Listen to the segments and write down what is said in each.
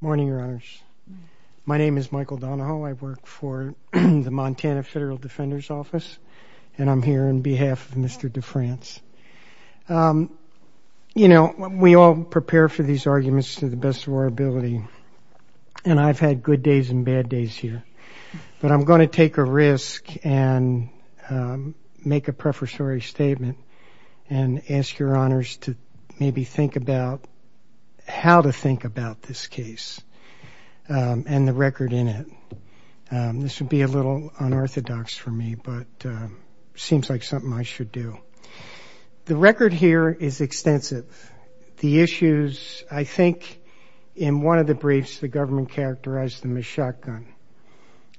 Good morning, Your Honors. My name is Michael Donahoe. I work for the Montana Federal Defender's Office, and I'm here on behalf of Mr. Defrance. You know, we all prepare for these arguments to the best of our ability, and I've had good days and bad days here. But I'm going to take a risk and make a prefatory statement and ask Your Honors to maybe think about how to think about this case and the record in it. This would be a little unorthodox for me, but it seems like something I should do. The record here is extensive. The issues, I think in one of the briefs the government characterized them as shotgun.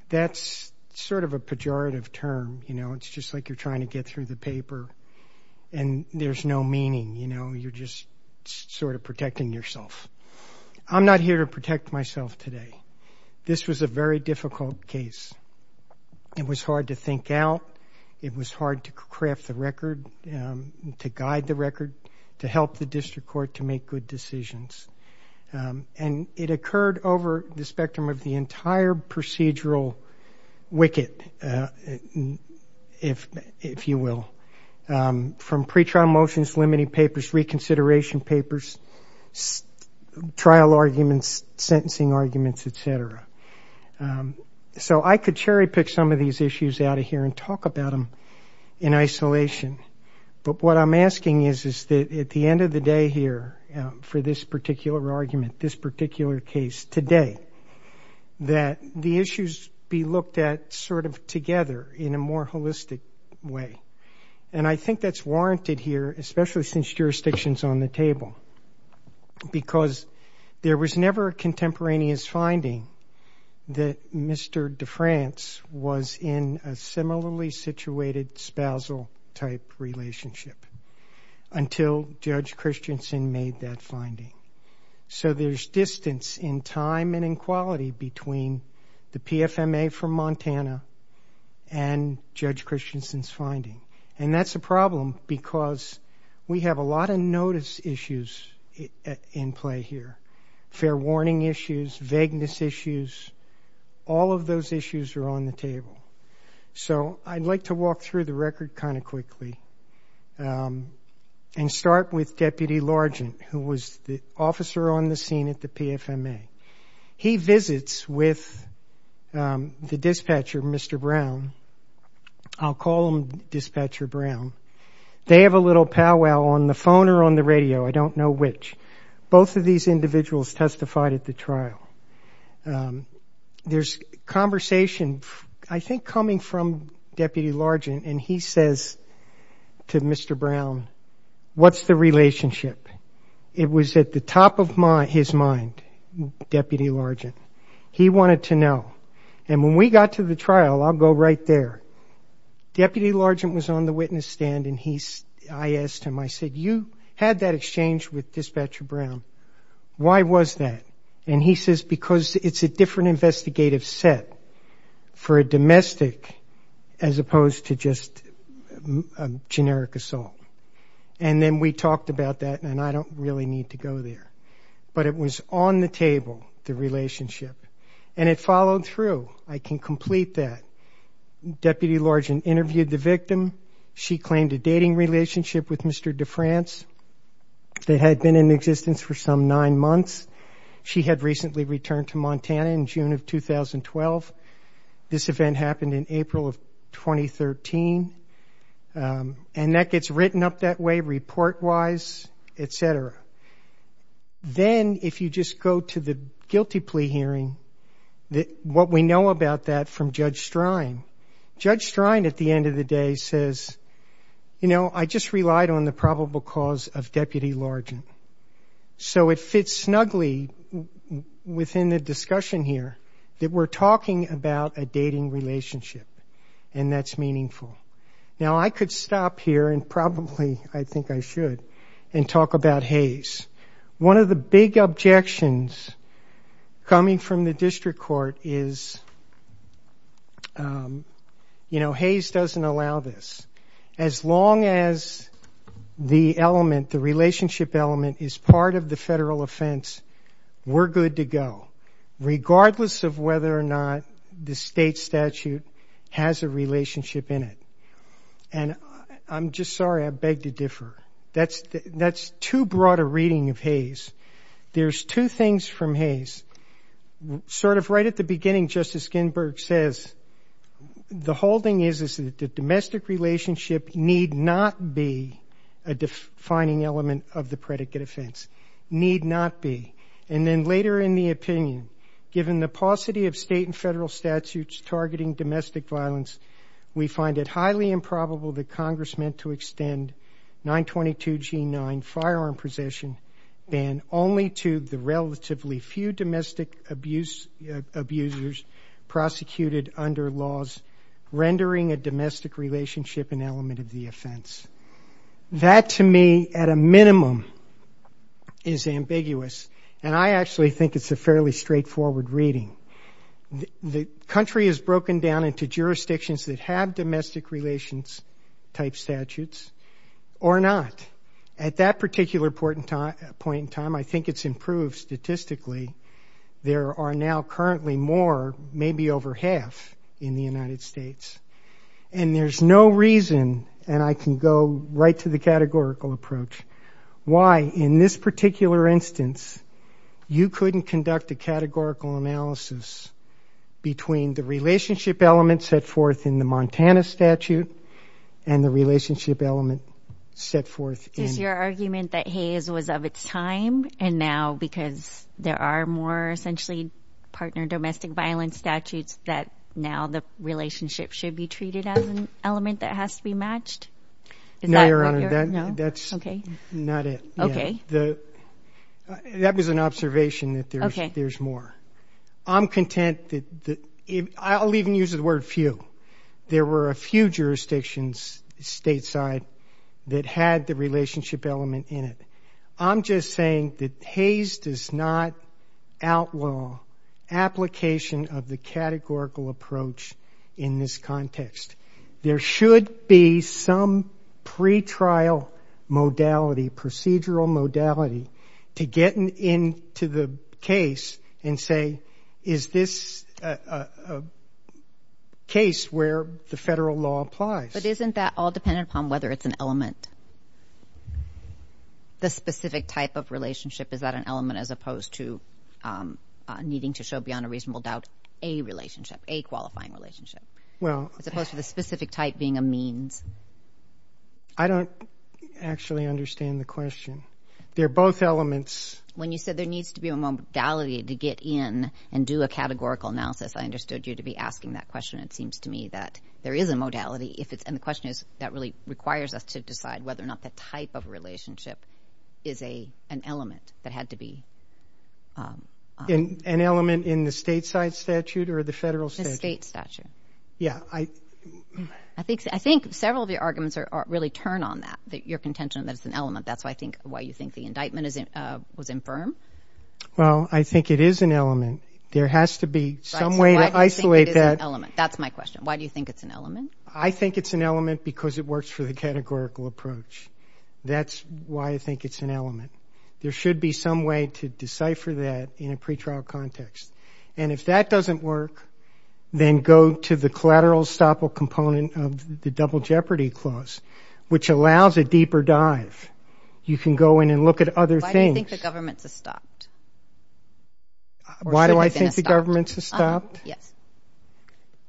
That's sort of a pejorative term. It's just like you're trying to get through the paper, and there's no meaning. You're just sort of protecting yourself. I'm not here to protect myself today. This was a very difficult case. It was hard to think out. It was hard to craft the record, to guide the record, to help the district court to make good decisions. And it occurred over the spectrum of the entire procedural wicket, if you will, from pretrial motions, limiting papers, reconsideration papers, trial arguments, sentencing arguments, et cetera. So I could cherry pick some of these issues out of here and talk about them in isolation, but what I'm asking is that at the end of the day here for this particular argument, this particular case today, that the issues be looked at sort of together in a more holistic way. And I think that's warranted here, especially since jurisdiction is on the table, because there was never a contemporaneous finding that Mr. DeFrance was in a similarly situated spousal-type relationship until Judge Christensen made that finding. So there's distance in time and in quality between the PFMA from Montana and Judge Christensen's finding. And that's a problem because we have a lot of notice issues in play here, fair warning issues, vagueness issues. All of those issues are on the table. So I'd like to walk through the record kind of quickly and start with Deputy Largent, who was the officer on the scene at the PFMA. He visits with the dispatcher, Mr. Brown. I'll call him Dispatcher Brown. They have a little powwow on the phone or on the radio. I don't know which. Both of these individuals testified at the trial. There's conversation, I think, coming from Deputy Largent, and he says to Mr. Brown, what's the relationship? It was at the top of his mind, Deputy Largent. He wanted to know. And when we got to the trial, I'll go right there, Deputy Largent was on the witness stand, and I asked him, I said, you had that exchange with Dispatcher Brown. Why was that? And he says, because it's a different investigative set for a domestic as opposed to just a generic assault. And then we talked about that, and I don't really need to go there. But it was on the table, the relationship, and it followed through. I can complete that. Deputy Largent interviewed the victim. She claimed a dating relationship with Mr. DeFrance that had been in existence for some nine months. She had recently returned to Montana in June of 2012. This event happened in April of 2013. And that gets written up that way report-wise, et cetera. Then if you just go to the guilty plea hearing, what we know about that from Judge Strine, Judge Strine at the end of the day says, you know, I just relied on the probable cause of Deputy Largent. So it fits snugly within the discussion here that we're talking about a dating relationship, and that's meaningful. Now, I could stop here, and probably I think I should, and talk about Hayes. One of the big objections coming from the district court is, you know, Hayes doesn't allow this. As long as the element, the relationship element, is part of the federal offense, we're good to go, regardless of whether or not the state statute has a relationship in it. And I'm just sorry, I beg to differ. That's too broad a reading of Hayes. There's two things from Hayes. Sort of right at the beginning, Justice Ginsburg says, the whole thing is that the domestic relationship need not be a defining element of the predicate offense. Need not be. And then later in the opinion, given the paucity of state and federal statutes targeting domestic violence, we find it highly improbable that Congress meant to extend 922G9, firearm possession, ban only to the relatively few domestic abusers prosecuted under laws, rendering a domestic relationship an element of the offense. That, to me, at a minimum, is ambiguous, and I actually think it's a fairly straightforward reading. The country is broken down into jurisdictions that have domestic relations-type statutes or not. At that particular point in time, I think it's improved statistically. There are now currently more, maybe over half, in the United States. And there's no reason, and I can go right to the categorical approach, why, in this particular instance, you couldn't conduct a categorical analysis between the relationship element set forth in the Montana statute and the relationship element set forth in... Is your argument that Hayes was of its time, and now because there are more, essentially, partner domestic violence statutes, that now the relationship should be treated as an element that has to be matched? No, Your Honor. No? Okay. That's not it. Okay. That was an observation that there's more. Okay. I'm content that the... I'll even use the word few. There were a few jurisdictions stateside that had the relationship element in it. I'm just saying that Hayes does not outlaw application of the categorical approach in this context. There should be some pretrial modality, procedural modality, to get into the case and say, is this a case where the federal law applies? But isn't that all dependent upon whether it's an element? The specific type of relationship, is that an element as opposed to needing to show, beyond a reasonable doubt, a relationship, a qualifying relationship? Well... As opposed to the specific type being a means? I don't actually understand the question. They're both elements. When you said there needs to be a modality to get in and do a categorical analysis, I understood you to be asking that question. It seems to me that there is a modality, and the question is that really requires us to decide whether or not that type of relationship is an element that had to be... An element in the stateside statute or the federal statute? The state statute. Yeah, I... I think several of your arguments really turn on that, your contention that it's an element. That's why you think the indictment was infirm? Well, I think it is an element. There has to be some way to isolate that. That's my question. Why do you think it's an element? I think it's an element because it works for the categorical approach. That's why I think it's an element. There should be some way to decipher that in a pretrial context. And if that doesn't work, then go to the collateral estoppel component of the Double Jeopardy Clause, which allows a deeper dive. You can go in and look at other things. Why do you think the government's estopped? Why do I think the government's estopped? Yes.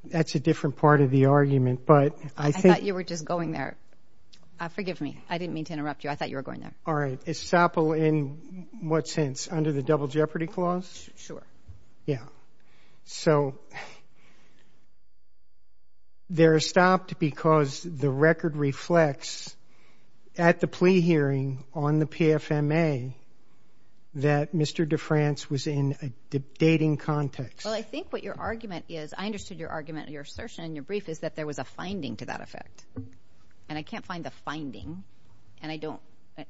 That's a different part of the argument, but I think... I thought you were just going there. Forgive me. I didn't mean to interrupt you. I thought you were going there. All right. Estoppel in what sense? Under the Double Jeopardy Clause? Sure. Yeah. So... They're estopped because the record reflects, at the plea hearing on the PFMA, that Mr. DeFrance was in a dating context. Well, I think what your argument is... I understood your argument, your assertion in your brief, is that there was a finding to that effect. And I can't find the finding. And I don't...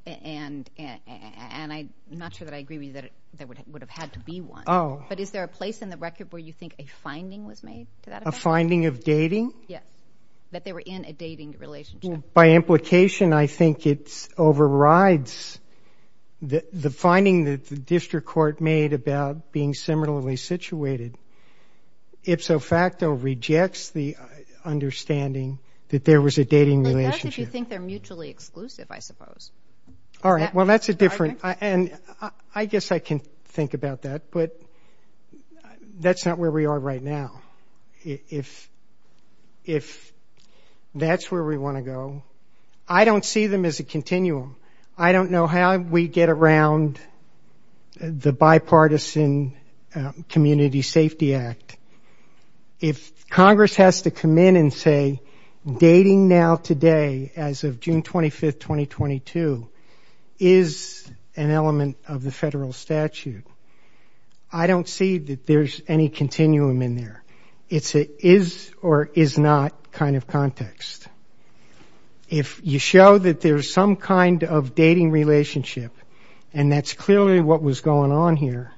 And I'm not sure that I agree with you that there would have had to be one. Oh. But is there a place in the record where you think a finding was made to that effect? A finding of dating? Yeah. That they were in a dating relationship. By implication, I think it overrides the finding that the district court made about being similarly situated. Ipso facto rejects the understanding that there was a dating relationship. That's if you think they're mutually exclusive, I suppose. All right. Well, that's a different... And I guess I can think about that, but that's not where we are right now. If that's where we want to go, I don't see them as a continuum. I don't know how we get around the bipartisan Community Safety Act. If Congress has to come in and say, dating now today, as of June 25, 2022, is an element of the federal statute, I don't see that there's any continuum in there. It's a is or is not kind of context. If you show that there's some kind of dating relationship, and that's clearly what was going on here,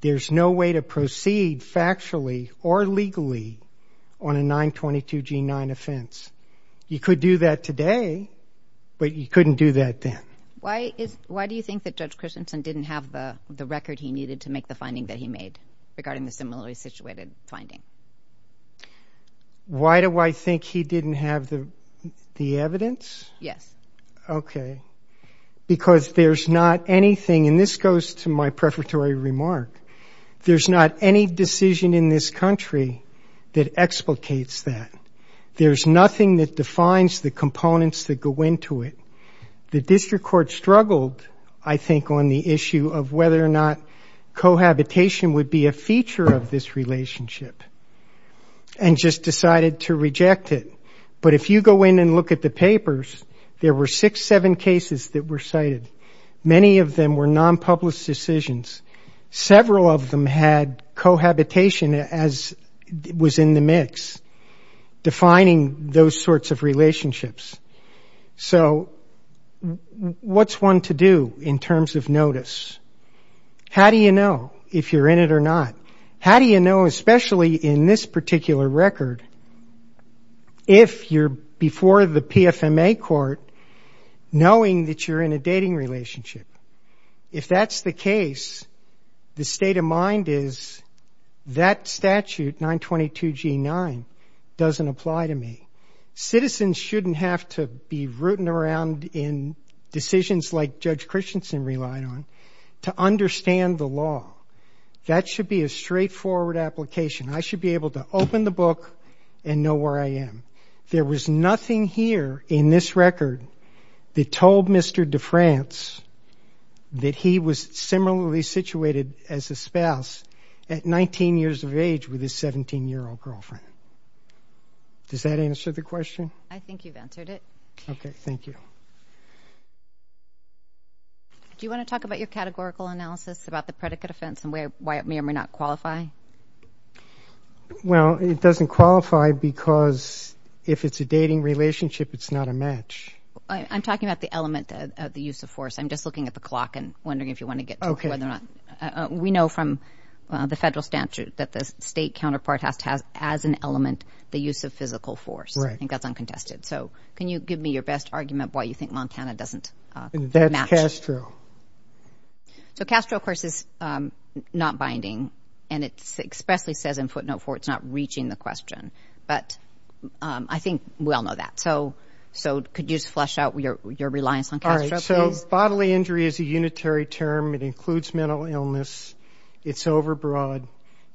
there's no way to proceed factually or legally on a 922 G9 offense. You could do that today, but you couldn't do that then. Why do you think that Judge Christensen didn't have the record he needed to make the finding that he made regarding the similarly situated finding? Why do I think he didn't have the evidence? Yes. Okay. Because there's not anything, and this goes to my prefatory remark, there's not any decision in this country that explicates that. There's nothing that defines the components that go into it. The district court struggled, I think, on the issue of whether or not cohabitation would be a feature of this relationship, and just decided to reject it. But if you go in and look at the papers, there were six, seven cases that were cited. Many of them were nonpublished decisions. Several of them had cohabitation as was in the mix. Defining those sorts of relationships. So what's one to do in terms of notice? How do you know if you're in it or not? How do you know, especially in this particular record, if you're before the PFMA court, knowing that you're in a dating relationship? If that's the case, the state of mind is that statute, 922 G9, doesn't apply to me. Citizens shouldn't have to be rooting around in decisions like Judge Christensen relied on to understand the law. That should be a straightforward application. I should be able to open the book and know where I am. There was nothing here in this record that told Mr. DeFrance that he was similarly situated as a spouse at 19 years of age with his 17-year-old girlfriend. Does that answer the question? I think you've answered it. Okay, thank you. Do you want to talk about your categorical analysis about the predicate offense and why it may or may not qualify? Well, it doesn't qualify because if it's a dating relationship, it's not a match. I'm talking about the element of the use of force. I'm just looking at the clock and wondering if you want to get to whether or not. That the state counterpart has as an element the use of physical force. I think that's uncontested. So can you give me your best argument why you think Montana doesn't match? So Castro, of course, is not binding. And it expressly says in footnote 4 it's not reaching the question. But I think we all know that. So could you just flesh out your reliance on Castro, please? All right, so bodily injury is a unitary term. It includes mental illness. It's overbroad.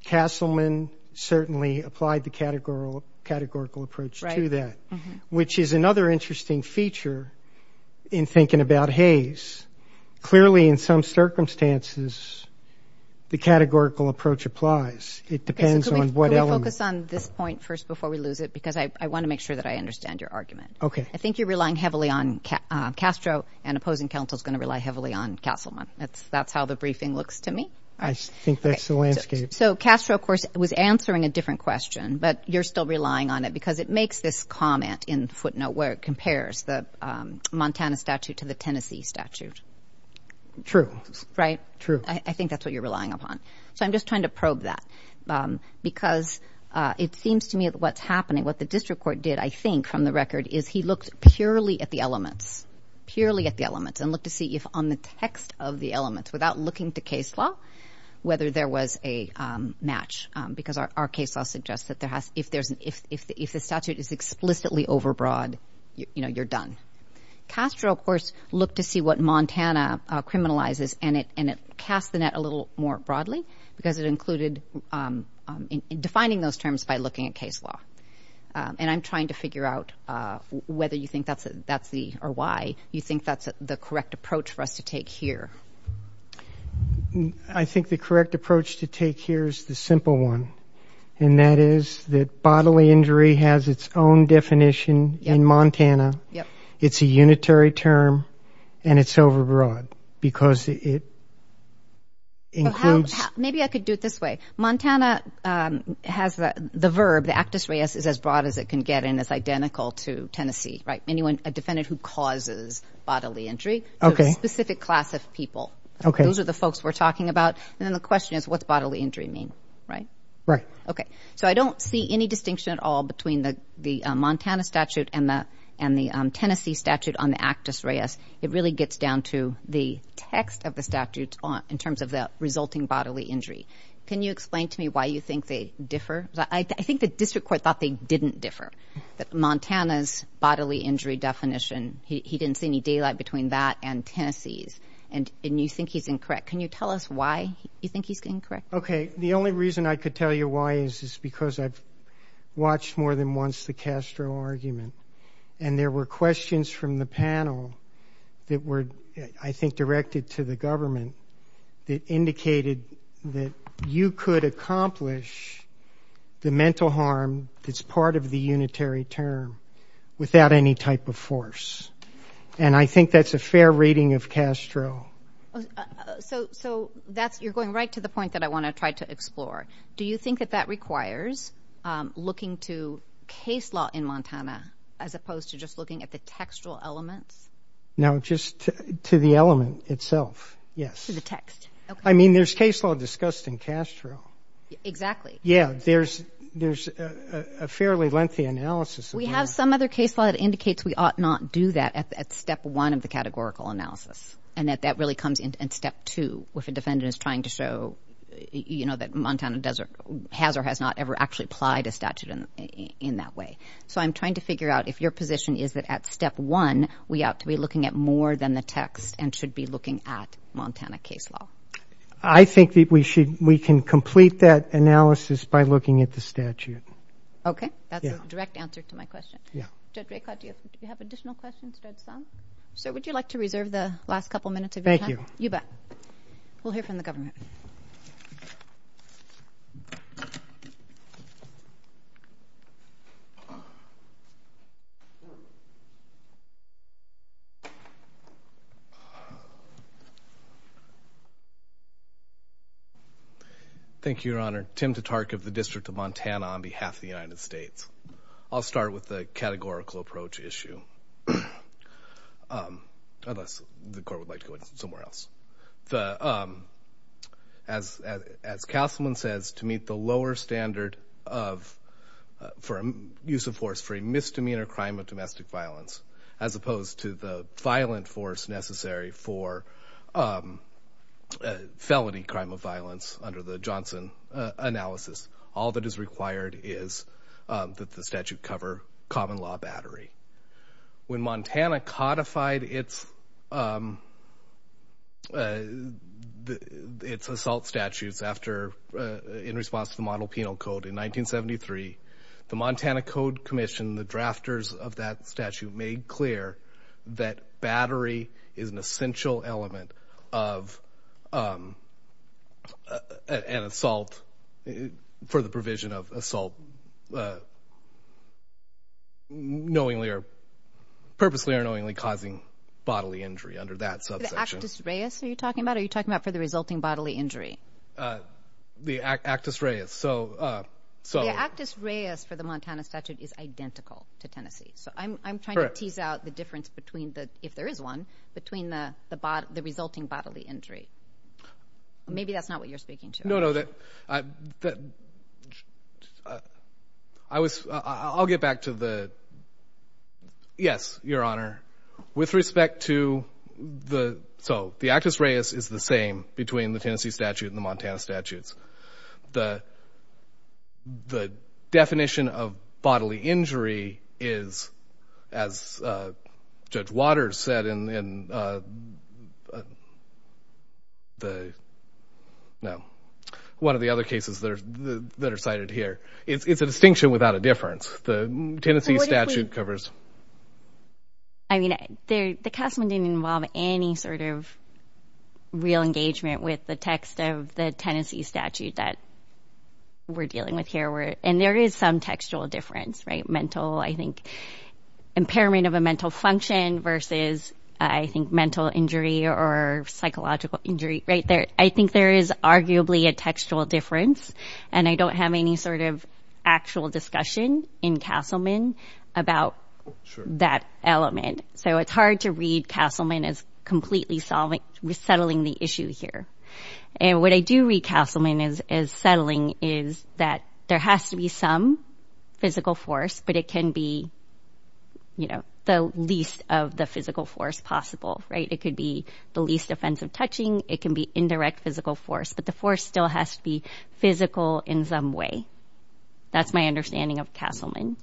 Castleman certainly applied the categorical approach to that. Which is another interesting feature in thinking about Hayes. Clearly, in some circumstances, the categorical approach applies. It depends on what element. Can we focus on this point first before we lose it? Because I want to make sure that I understand your argument. Okay. I think you're relying heavily on Castro and opposing counsel is going to rely heavily on Castleman. That's how the briefing looks to me. I think that's the landscape. So Castro, of course, was answering a different question. But you're still relying on it because it makes this comment in footnote where it compares the Montana statute to the Tennessee statute. True. Right? True. I think that's what you're relying upon. So I'm just trying to probe that because it seems to me what's happening, what the district court did, I think, from the record is he looked purely at the elements, purely at the elements and looked to see if on the text of the elements without looking to case law, whether there was a match because our case law suggests that if the statute is explicitly overbroad, you're done. Castro, of course, looked to see what Montana criminalizes and it cast the net a little more broadly because it included defining those terms by looking at case law. And I'm trying to figure out whether you think that's the or why you think that's the correct approach for us to take here. I think the correct approach to take here is the simple one. And that is that bodily injury has its own definition in Montana. It's a unitary term and it's overbroad because it includes... Maybe I could do it this way. Montana has the verb, the actus reus is as broad as it can get and it's identical to Tennessee, right? A defendant who causes bodily injury to a specific class of people. Those are the folks we're talking about. And then the question is, what's bodily injury mean, right? So I don't see any distinction at all between the Montana statute and the Tennessee statute on the actus reus. It really gets down to the text of the statute in terms of the resulting bodily injury. Can you explain to me why you think they differ? I think the district court thought they didn't differ. Montana's bodily injury definition, he didn't see any daylight and I think he's incorrect. Can you tell us why you think he's incorrect? Okay, the only reason I could tell you why is because I've watched more than once the Castro argument and there were questions from the panel that were, I think, directed to the government that indicated that you could accomplish the mental harm that's part of the unitary term without any type of force. And I think that's a fair rating of Castro. So you're going right to the point that I want to try to explore. Do you think that that requires looking to case law in Montana as opposed to just looking at the textual elements? No, just to the element itself, yes. To the text, okay. I mean, there's case law discussed in Castro. Exactly. Yeah, there's a fairly lengthy analysis. We have some other case law that indicates we ought not do that at step one of the categorical analysis and that that really comes in step two if a defendant is trying to show that Montana does or has or has not ever actually applied a statute in that way. So I'm trying to figure out if your position is that at step one we ought to be looking at more than the text and should be looking at Montana case law. I think that we should, we can complete that analysis by looking at the statute. Okay, that's a direct answer to my question. Judge Raycott, do you have additional questions to add some? I'm going to take the last couple minutes of your time. You bet. We'll hear from the government. Thank you, Your Honor. Tim Tatark of the District of Montana on behalf of the United States. I'll start with the categorical approach issue. Unless the court would like to go somewhere else. As Castleman says, to meet the lower standard for use of force for a misdemeanor crime of domestic violence as opposed to the violent force necessary for a felony crime of violence under the Johnson analysis, all that is required is that the statute cover common law battery. When Montana codified its assault statutes in response to the model penal code in 1973, the Montana Code Commission, the drafters of that statute, made clear that battery is an essential element of an assault for the provision of assault for the purposely or knowingly causing bodily injury under that subsection. are you talking about or are you talking about for the resulting bodily injury? The actus reus. The actus reus for the Montana statute is identical to Tennessee. I'm trying to tease out the difference between, if there is one, between the resulting bodily injury. Maybe that's not what you're speaking to. I'll get back to the... Yes, Your Honor. With respect to the... So, the actus reus is the same between the Tennessee statute and the Montana statutes. The definition of bodily injury is, as Judge Waters said in the... No. One of the other cases that are cited here. It's a distinction without a difference. The Tennessee statute covers... I mean, the Castleman didn't involve any sort of real engagement with the text of the Tennessee statute that we're dealing with here. And there is some textual difference. Mental, I think, impairment of a mental function versus, I think, mental injury or psychological injury. I think there is arguably a textual difference. And I don't have any sort of discussion in Castleman about that element. So, it's hard to read Castleman as completely settling the issue here. And what I do read Castleman as settling is that there has to be some physical force, but it can be the least of the physical force possible. It could be the least offensive touching. It can be indirect physical force. But the force still has to be physical in some way. That's my understanding of Castleman.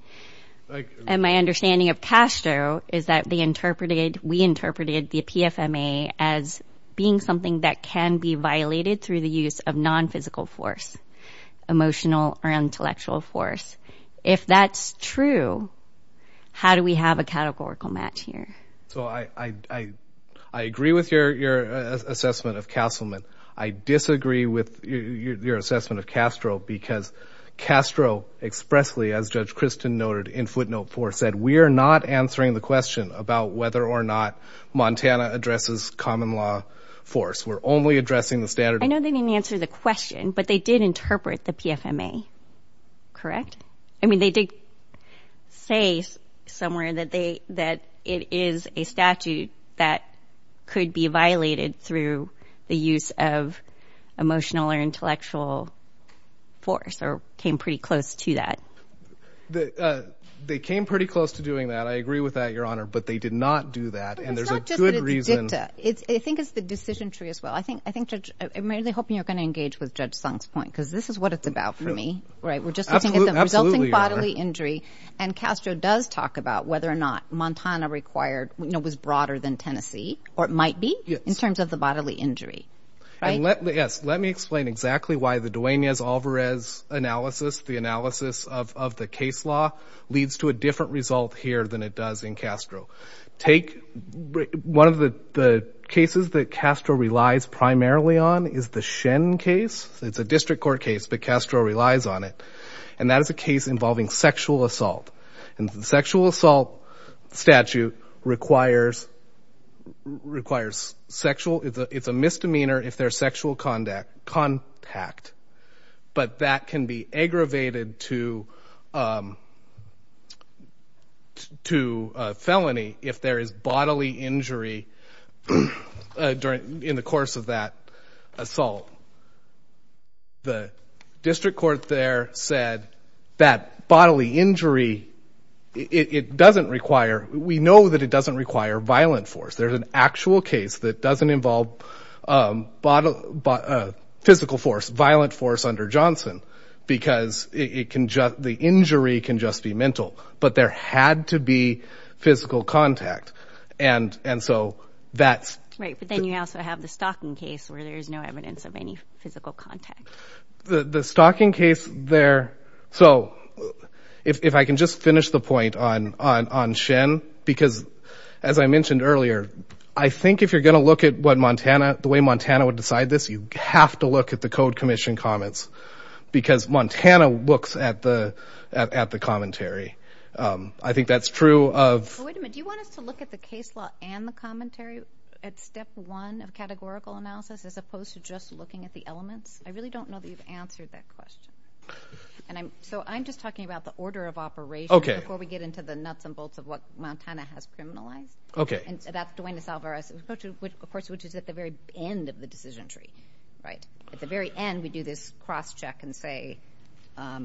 And my understanding of Castro is that we interpreted the PFMA as being something that can be violated through the use of non-physical force, emotional or intellectual force. If that's true, how do we have a categorical match here? So, I agree with your assessment of Castleman. I disagree with your assessment of Castro because Castro expressly, as Judge Christin noted in footnote 4, said, we are not answering the question about whether or not Montana addresses common law force. We're only addressing the standard... I know they didn't answer the question, but they did interpret the PFMA. Correct? I mean, they did say somewhere that it is a statute that could be violated through the use of emotional or intellectual force or came pretty close to that. They came pretty close to doing that. I agree with that, Your Honor, but they did not do that. And there's a good reason... I think it's the decision tree as well. I'm really hoping you're going to engage with Judge Sung's point because this is what it's about for me. We're just looking at the resulting bodily injury and Castro does talk about whether or not Montana required as analysis, the analysis of the case law leads to a different result here than it does in Castro. Take one of the cases that Castro relies primarily on is the Shen case. It's a district court case, but Castro relies on it. And that is a case involving sexual assault. And the sexual assault statute requires sexual... It's a misdemeanor if there's sexual contact. But that can be aggravated to... to felony if there is bodily injury during... in the course of that assault. The district court there said that bodily injury, it doesn't require... We know that it doesn't require violent force. There's an actual case that doesn't involve physical force, violent force under Johnson because it can just... The injury can just be mental, but there had to be physical contact. And so that's... Right, but then you also have the Stocking case where there's no evidence of any physical contact. The Stocking case there... So if I can just finish the point on Shen, because as I mentioned earlier, I think if you're going to look at what Montana... The way Montana would decide this, you have to look at the Code Commission comments because Montana looks at the commentary. I think that's true of... Wait a minute. Do you want us to look at the case law and the commentary at step one of categorical analysis as opposed to just looking at the elements? I really don't know that you've answered that question. So I'm just talking about the order of operation which is at the very end of the decision tree, right? At the very end, we do this cross-check and say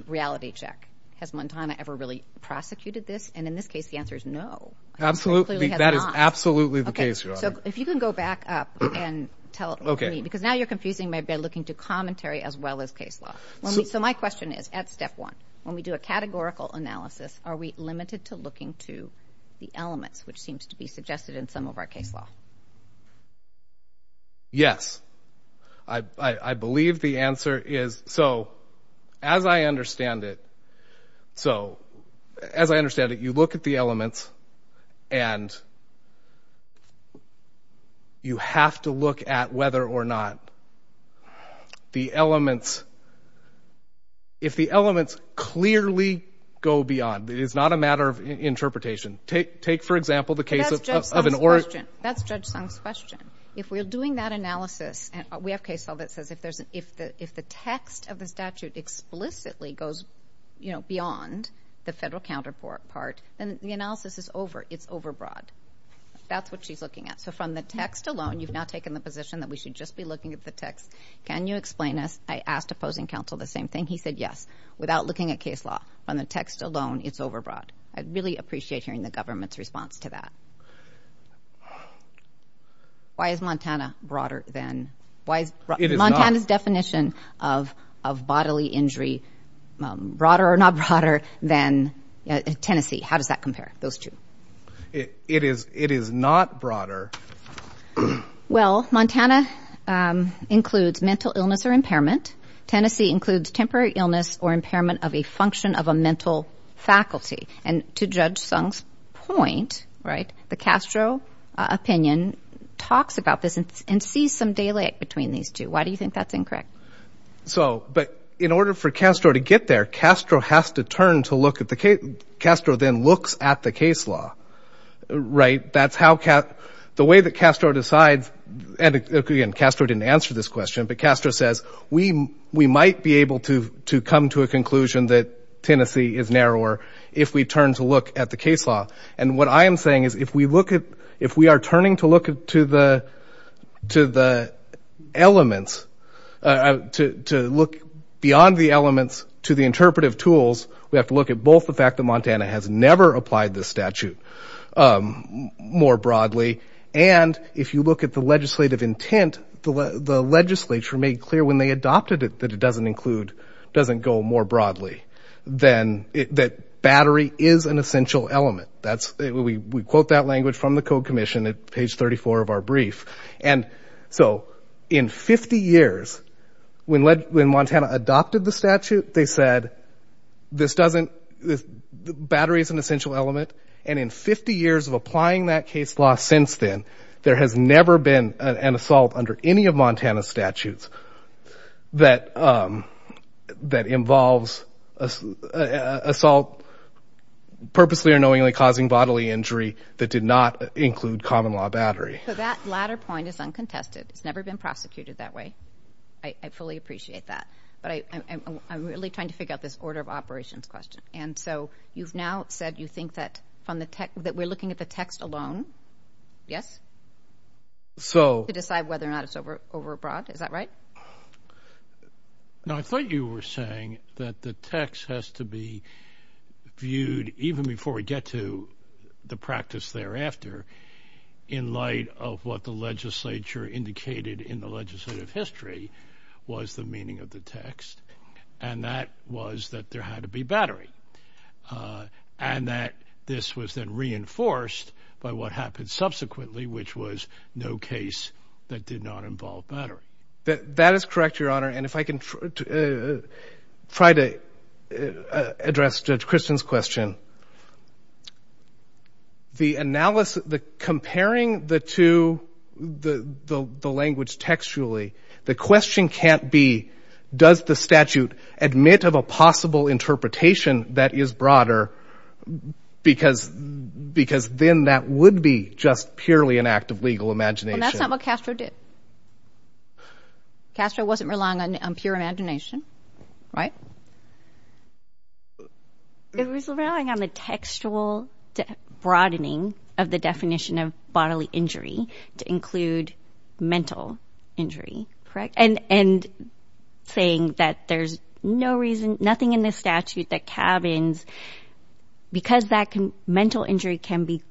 reality check. Has Montana ever really prosecuted this? And in this case, the answer is no. Absolutely. That is absolutely the case, Your Honor. So if you can go back up and tell me, because now you're confusing me by looking to commentary as well as case law. So my question is, when we look at step one, when we do a categorical analysis, are we limited to looking to the elements which seems to be suggested in some of our case law? Yes. I believe the answer is... So as I understand it, so as I understand it, you look at the elements and you have to look at whether or not the elements... If the elements clearly go beyond, it is not a matter of interpretation. Take, for example, the case of an or... That's Judge Sung's question. If we're doing that analysis, we have case law that says if the text of the statute explicitly goes beyond the federal counterpart, then the analysis is over, it's overbroad. That's what she's looking at. So from the text alone, you've now taken the position that we should just be looking at the text. Can you explain this? I asked opposing counsel the same thing. He said yes. Without looking at case law, from the text alone, it's overbroad. I'd really appreciate hearing the government's response to that. Why is Montana broader than... Why is Montana's definition of bodily injury broader or not broader than Tennessee? How does that compare, those two? It is not broader. Well, Montana includes mental illness or impairment. Tennessee includes temporary illness or impairment of a function of a mental faculty. And to Judge Sung's point, the Castro opinion talks about this and sees some delay between these two. Why do you think that's incorrect? So, but in order for Castro to get there, Castro has to turn to look at the... Castro then looks at the case law. Right? That's how... The way that Castro decides... And again, Castro didn't answer this question, but Castro says, we might be able to come to a conclusion that Tennessee is narrower if we turn to look at the case law. And what I am saying is if we look at... If we are turning to look to the elements, to look beyond the elements to the interpretive tools, we have to look at both the fact that Montana has never applied this statute more broadly and if you look at the legislative intent, the legislature made clear when they adopted it that it doesn't include... Doesn't go more broadly than... That battery is an essential element. That's... We quote that language from the Code Commission at page 34 of our brief. And so, in 50 years, when Montana adopted the statute, they said, this doesn't... Battery is an essential element and in 50 years of applying that case law since then, there has never been an assault under any of Montana's statutes that involves assault purposely or knowingly causing bodily injury that did not include common law battery. So that latter point is uncontested. It's never been prosecuted that way. I fully appreciate that. But I'm really trying to figure out this order of operations question. And so, you've now said you think that we're looking at the text alone Yes? So... To decide whether or not it's over broad. Is that right? Now, I thought you were saying that the text has to be viewed even before we get to the practice thereafter in light of what the legislature indicated in the legislative history was the meaning of the text. And that was that there had to be battery. And that this was then reinforced by what happened subsequently which was no case that did not involve battery. That is correct, Your Honor. And if I can try to address Judge Christian's question. The analysis comparing the two the language textually the question can't be does the statute admit of a possible interpretation that is broader because because then that would be just purely an act of legal imagination. Well, that's not what Castro did. Castro wasn't relying on pure imagination. Right? It was relying on the textual broadening of the definition of bodily injury to include mental injury. Correct. And saying that there's no reason nothing in the statute that cabins because that mental injury can be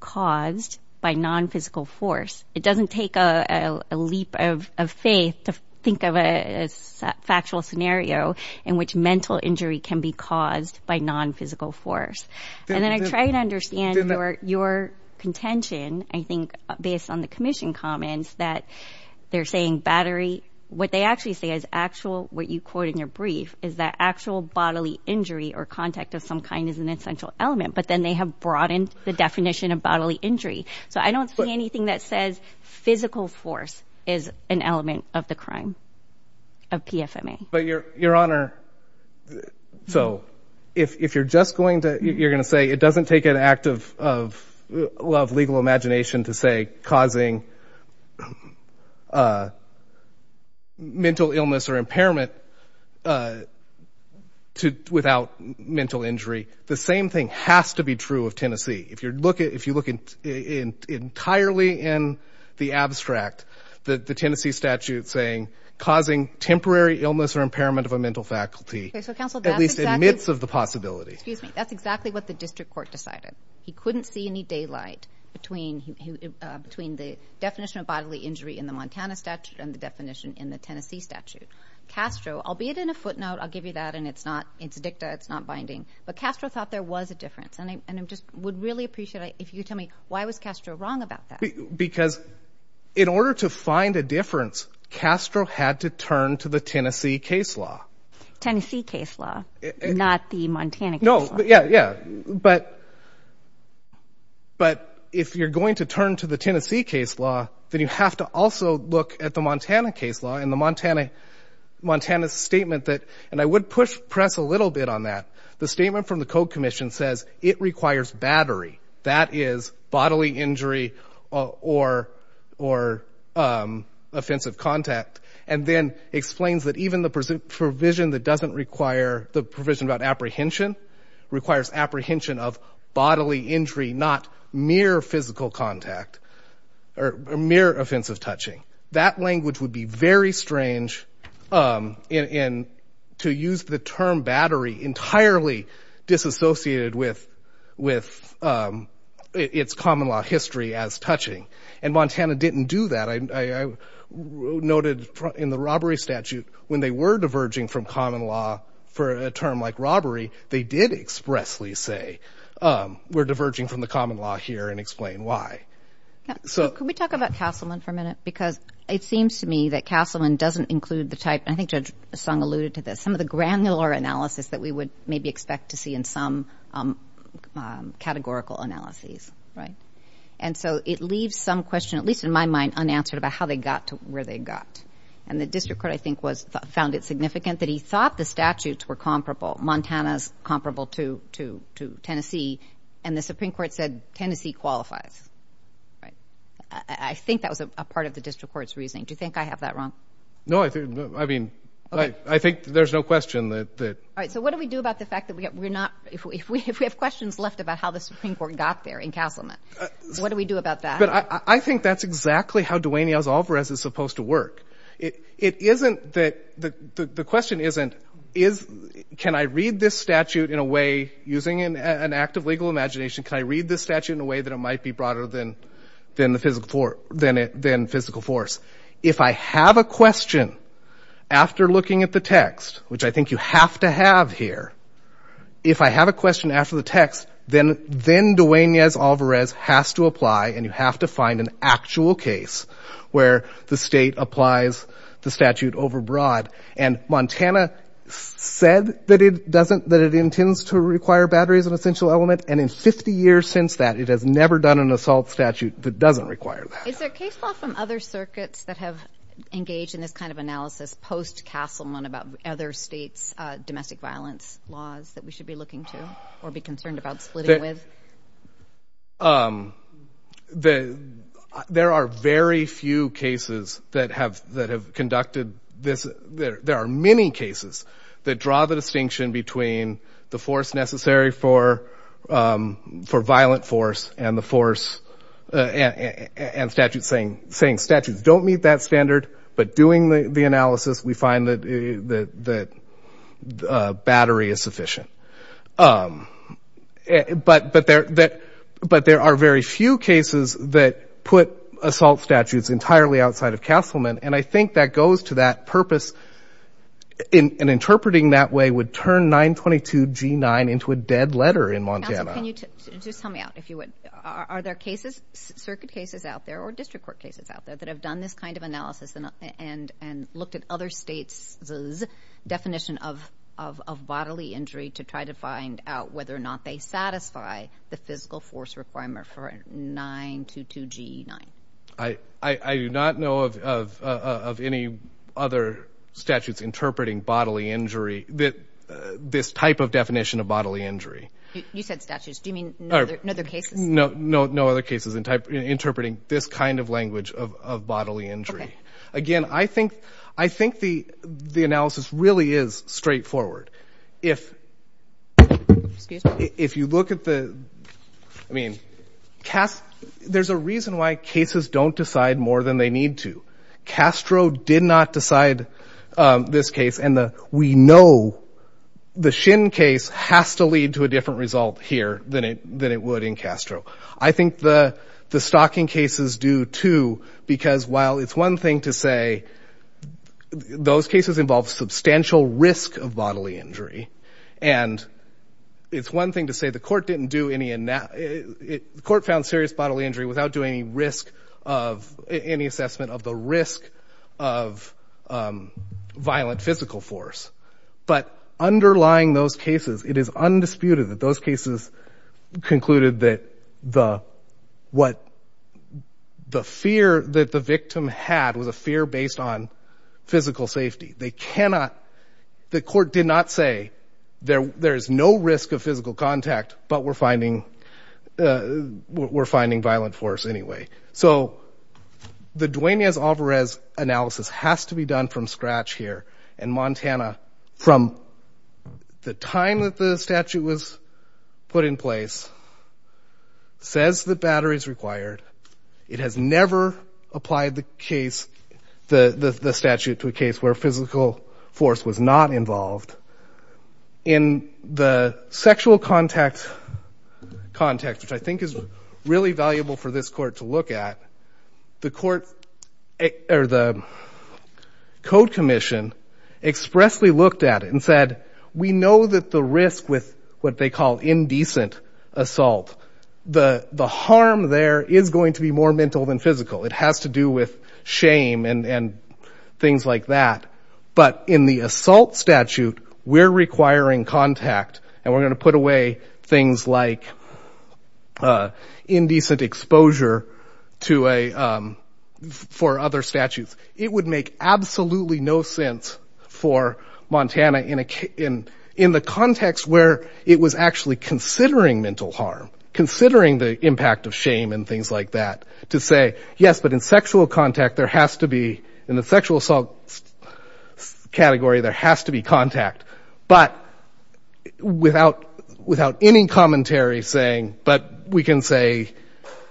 caused by non-physical force. It doesn't take a leap of faith to think of a factual scenario in which mental injury can be caused by non-physical force. And then I try to understand your contention I think based on the commission comments that they're saying battery what they actually say is actual what you say is element. But then they have broadened the definition of bodily injury. So I don't see anything that says physical force is an element of the crime of PFMA. But your your honor so if if you're just going to you're going to say it doesn't take an act of of legal imagination to say causing mental illness or impairment without mental injury the same thing has to be true of If you're looking entirely in the abstract the Tennessee statute saying causing temporary illness or of a faculty at least in the midst of the possibility. That's exactly what the district court decided. He couldn't see any daylight between the definition of bodily injury and the Tennessee statute. Castro thought there was a difference. Why was Castro wrong about that? Because in order to find a difference Castro had to turn to the Tennessee case law. If you're going to turn to the Tennessee case law then you have to also look at the case law. The from the code commission says it requires battery. That is bodily injury or offensive contact. And then explains that even the provision that doesn't require the provision about apprehension requires apprehension of bodily injury not mere physical contact or mere offensive touching. That language would be very strange and to use the term battery entirely disassociated with its common law history as touching. And Montana didn't do that. I noted in the statute when they were diverging from common law for a term like they did not expressly say. diverging from the common law here and explain why. Can we talk about Castleman for a It seems to me that Castleman doesn't include the granular analysis that we would expect to see in some categorical analysis. It leaves some question unanswered about how they got to where they got. The district court thought the statutes were comparable to Tennessee and the Supreme Court said Tennessee qualifies. Do you think I have that wrong? No. I think there's no question. What do we do about the fact that we have questions left about how the Supreme Court got there? I think that's how it's supposed to question isn't can I read this statute in a way that it might be broader than physical force. If I have a question after looking at the text, which I think you have to have here, if I have a after the text, then it has to apply and you have to find an actual case where the state applies the statute overbroad. Montana said that it intends to require batteries and in 50 years since that it has never done an assault statute that doesn't require that. Is there case law from other circuits that have engaged in this kind of analysis post-castleman about other states' domestic violence laws that we should be looking to or be concerned about splitting with? There are very few cases that have conducted this. There are many cases that draw the distinction between the force necessary for violent force and statutes saying statutes don't meet that standard but doing the analysis we find that battery is sufficient. But there are very few cases that put assault statutes entirely outside of Castleman and I think that goes to that purpose in interpreting that way would turn 922G9 into a dead letter in Montana. Are there cases, circuit cases out there that have done this kind of analysis and looked at other states' definition of bodily injury to try to find out whether or not they satisfy the physical force requirement for 922G9? I do not know of any other statutes interpreting bodily injury this type of definition of bodily injury. You said statutes, do you mean no other cases? No other cases interpreting this kind of language of bodily injury. Again, I think the analysis really is straightforward. If you look at the, I mean, there's a reason why cases don't decide more than they would in Castro. I think the stocking cases do too, while it's one thing to say those cases involve substantial risk of bodily injury, and it's one thing to say the court didn't do any, the court found serious bodily injury without doing any assessment of the risk of violent physical force. But underlying those cases, it is undisputed that those cases concluded that the fear that the victim had was a fear based on physical safety. The court did not say there's no risk of physical contact, but we're finding violent force anyway. So, the Duane Alvarez analysis has to be done from scratch here in Montana. From the time that the statute was put in place, says the battery is required, it has never applied the case, the statute to a case where physical force was not involved. In the sexual contact context, which I think is really valuable for this court to look at, the code commission expressly looked at it and said, we know that the risk with what they call indecent assault, the harm there is going to be more mental than physical. It has to do with shame and things like that. But in the assault statute, we're requiring contact and we're going to put away things like indecent exposure for other statutes. It would make absolutely no sense for Montana in the context where it was actually considering mental harm, the impact of shame and things like that, to say, but in sexual contact, there has to be contact, but without any commentary saying, but we can say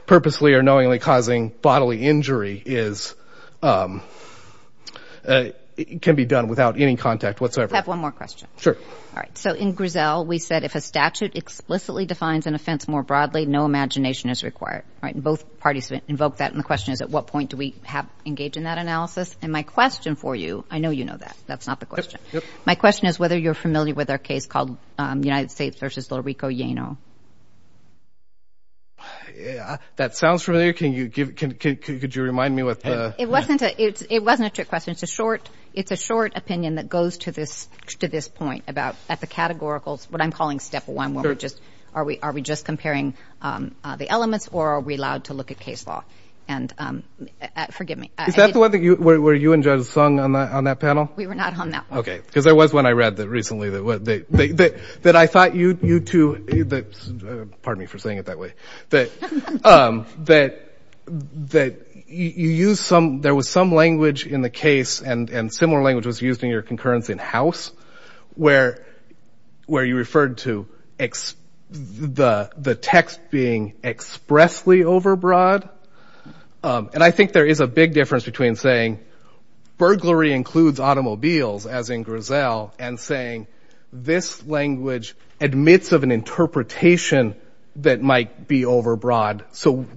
purposely or knowingly causing bodily injury can be statute explicitly defines an offense more broadly. My question is whether you are familiar with our case called United States versus Little Rico. It's a short opinion that goes to this point. At the categorical, what I'm calling step one, are we just comparing the elements or are we allowed to look at case law? Forgive me. Is that the one where you and Judge Sung were on that panel? We were not on that one. I thought you two were on that one. I think there is a big difference between saying burglary includes automobiles as in and saying this language admits of an interpretation that might be over broad.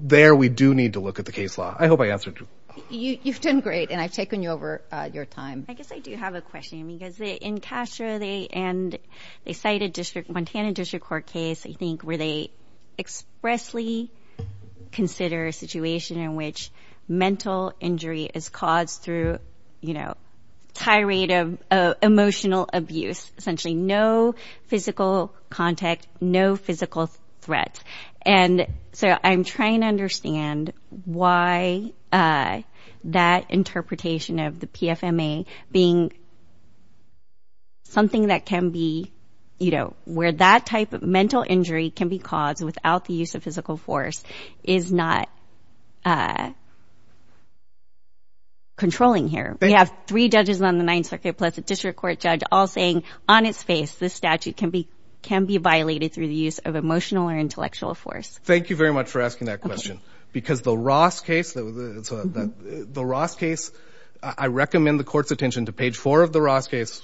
There we do need to look at the case law. I hope I answered your question. I do have a question. They cited a case where they expressly consider a situation in which mental injury is caused through emotional abuse. No physical contact, no physical threat. I'm trying to why that interpretation of the PFMA being something that can be where that type of mental injury can be caused without the use of physical force is not controlling here. We have three judges on the ninth circuit saying this statute can be violated. Thank you for asking that question. The Ross case, I recommend the court's attention to page four of the Ross case.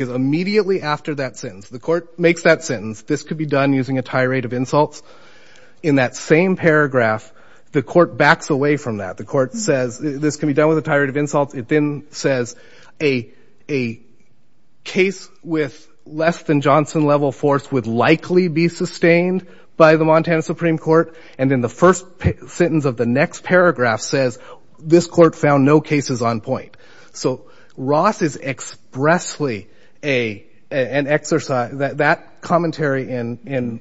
Immediately after that sentence, this could be done using a tirade of insults. In that same paragraph, the court backs away from that. The court says this can be done with a tirade of insults. It then says a case with less than Johnson level force would likely be sustained by the Supreme Court. In the first sentence of the next paragraph it says this can be It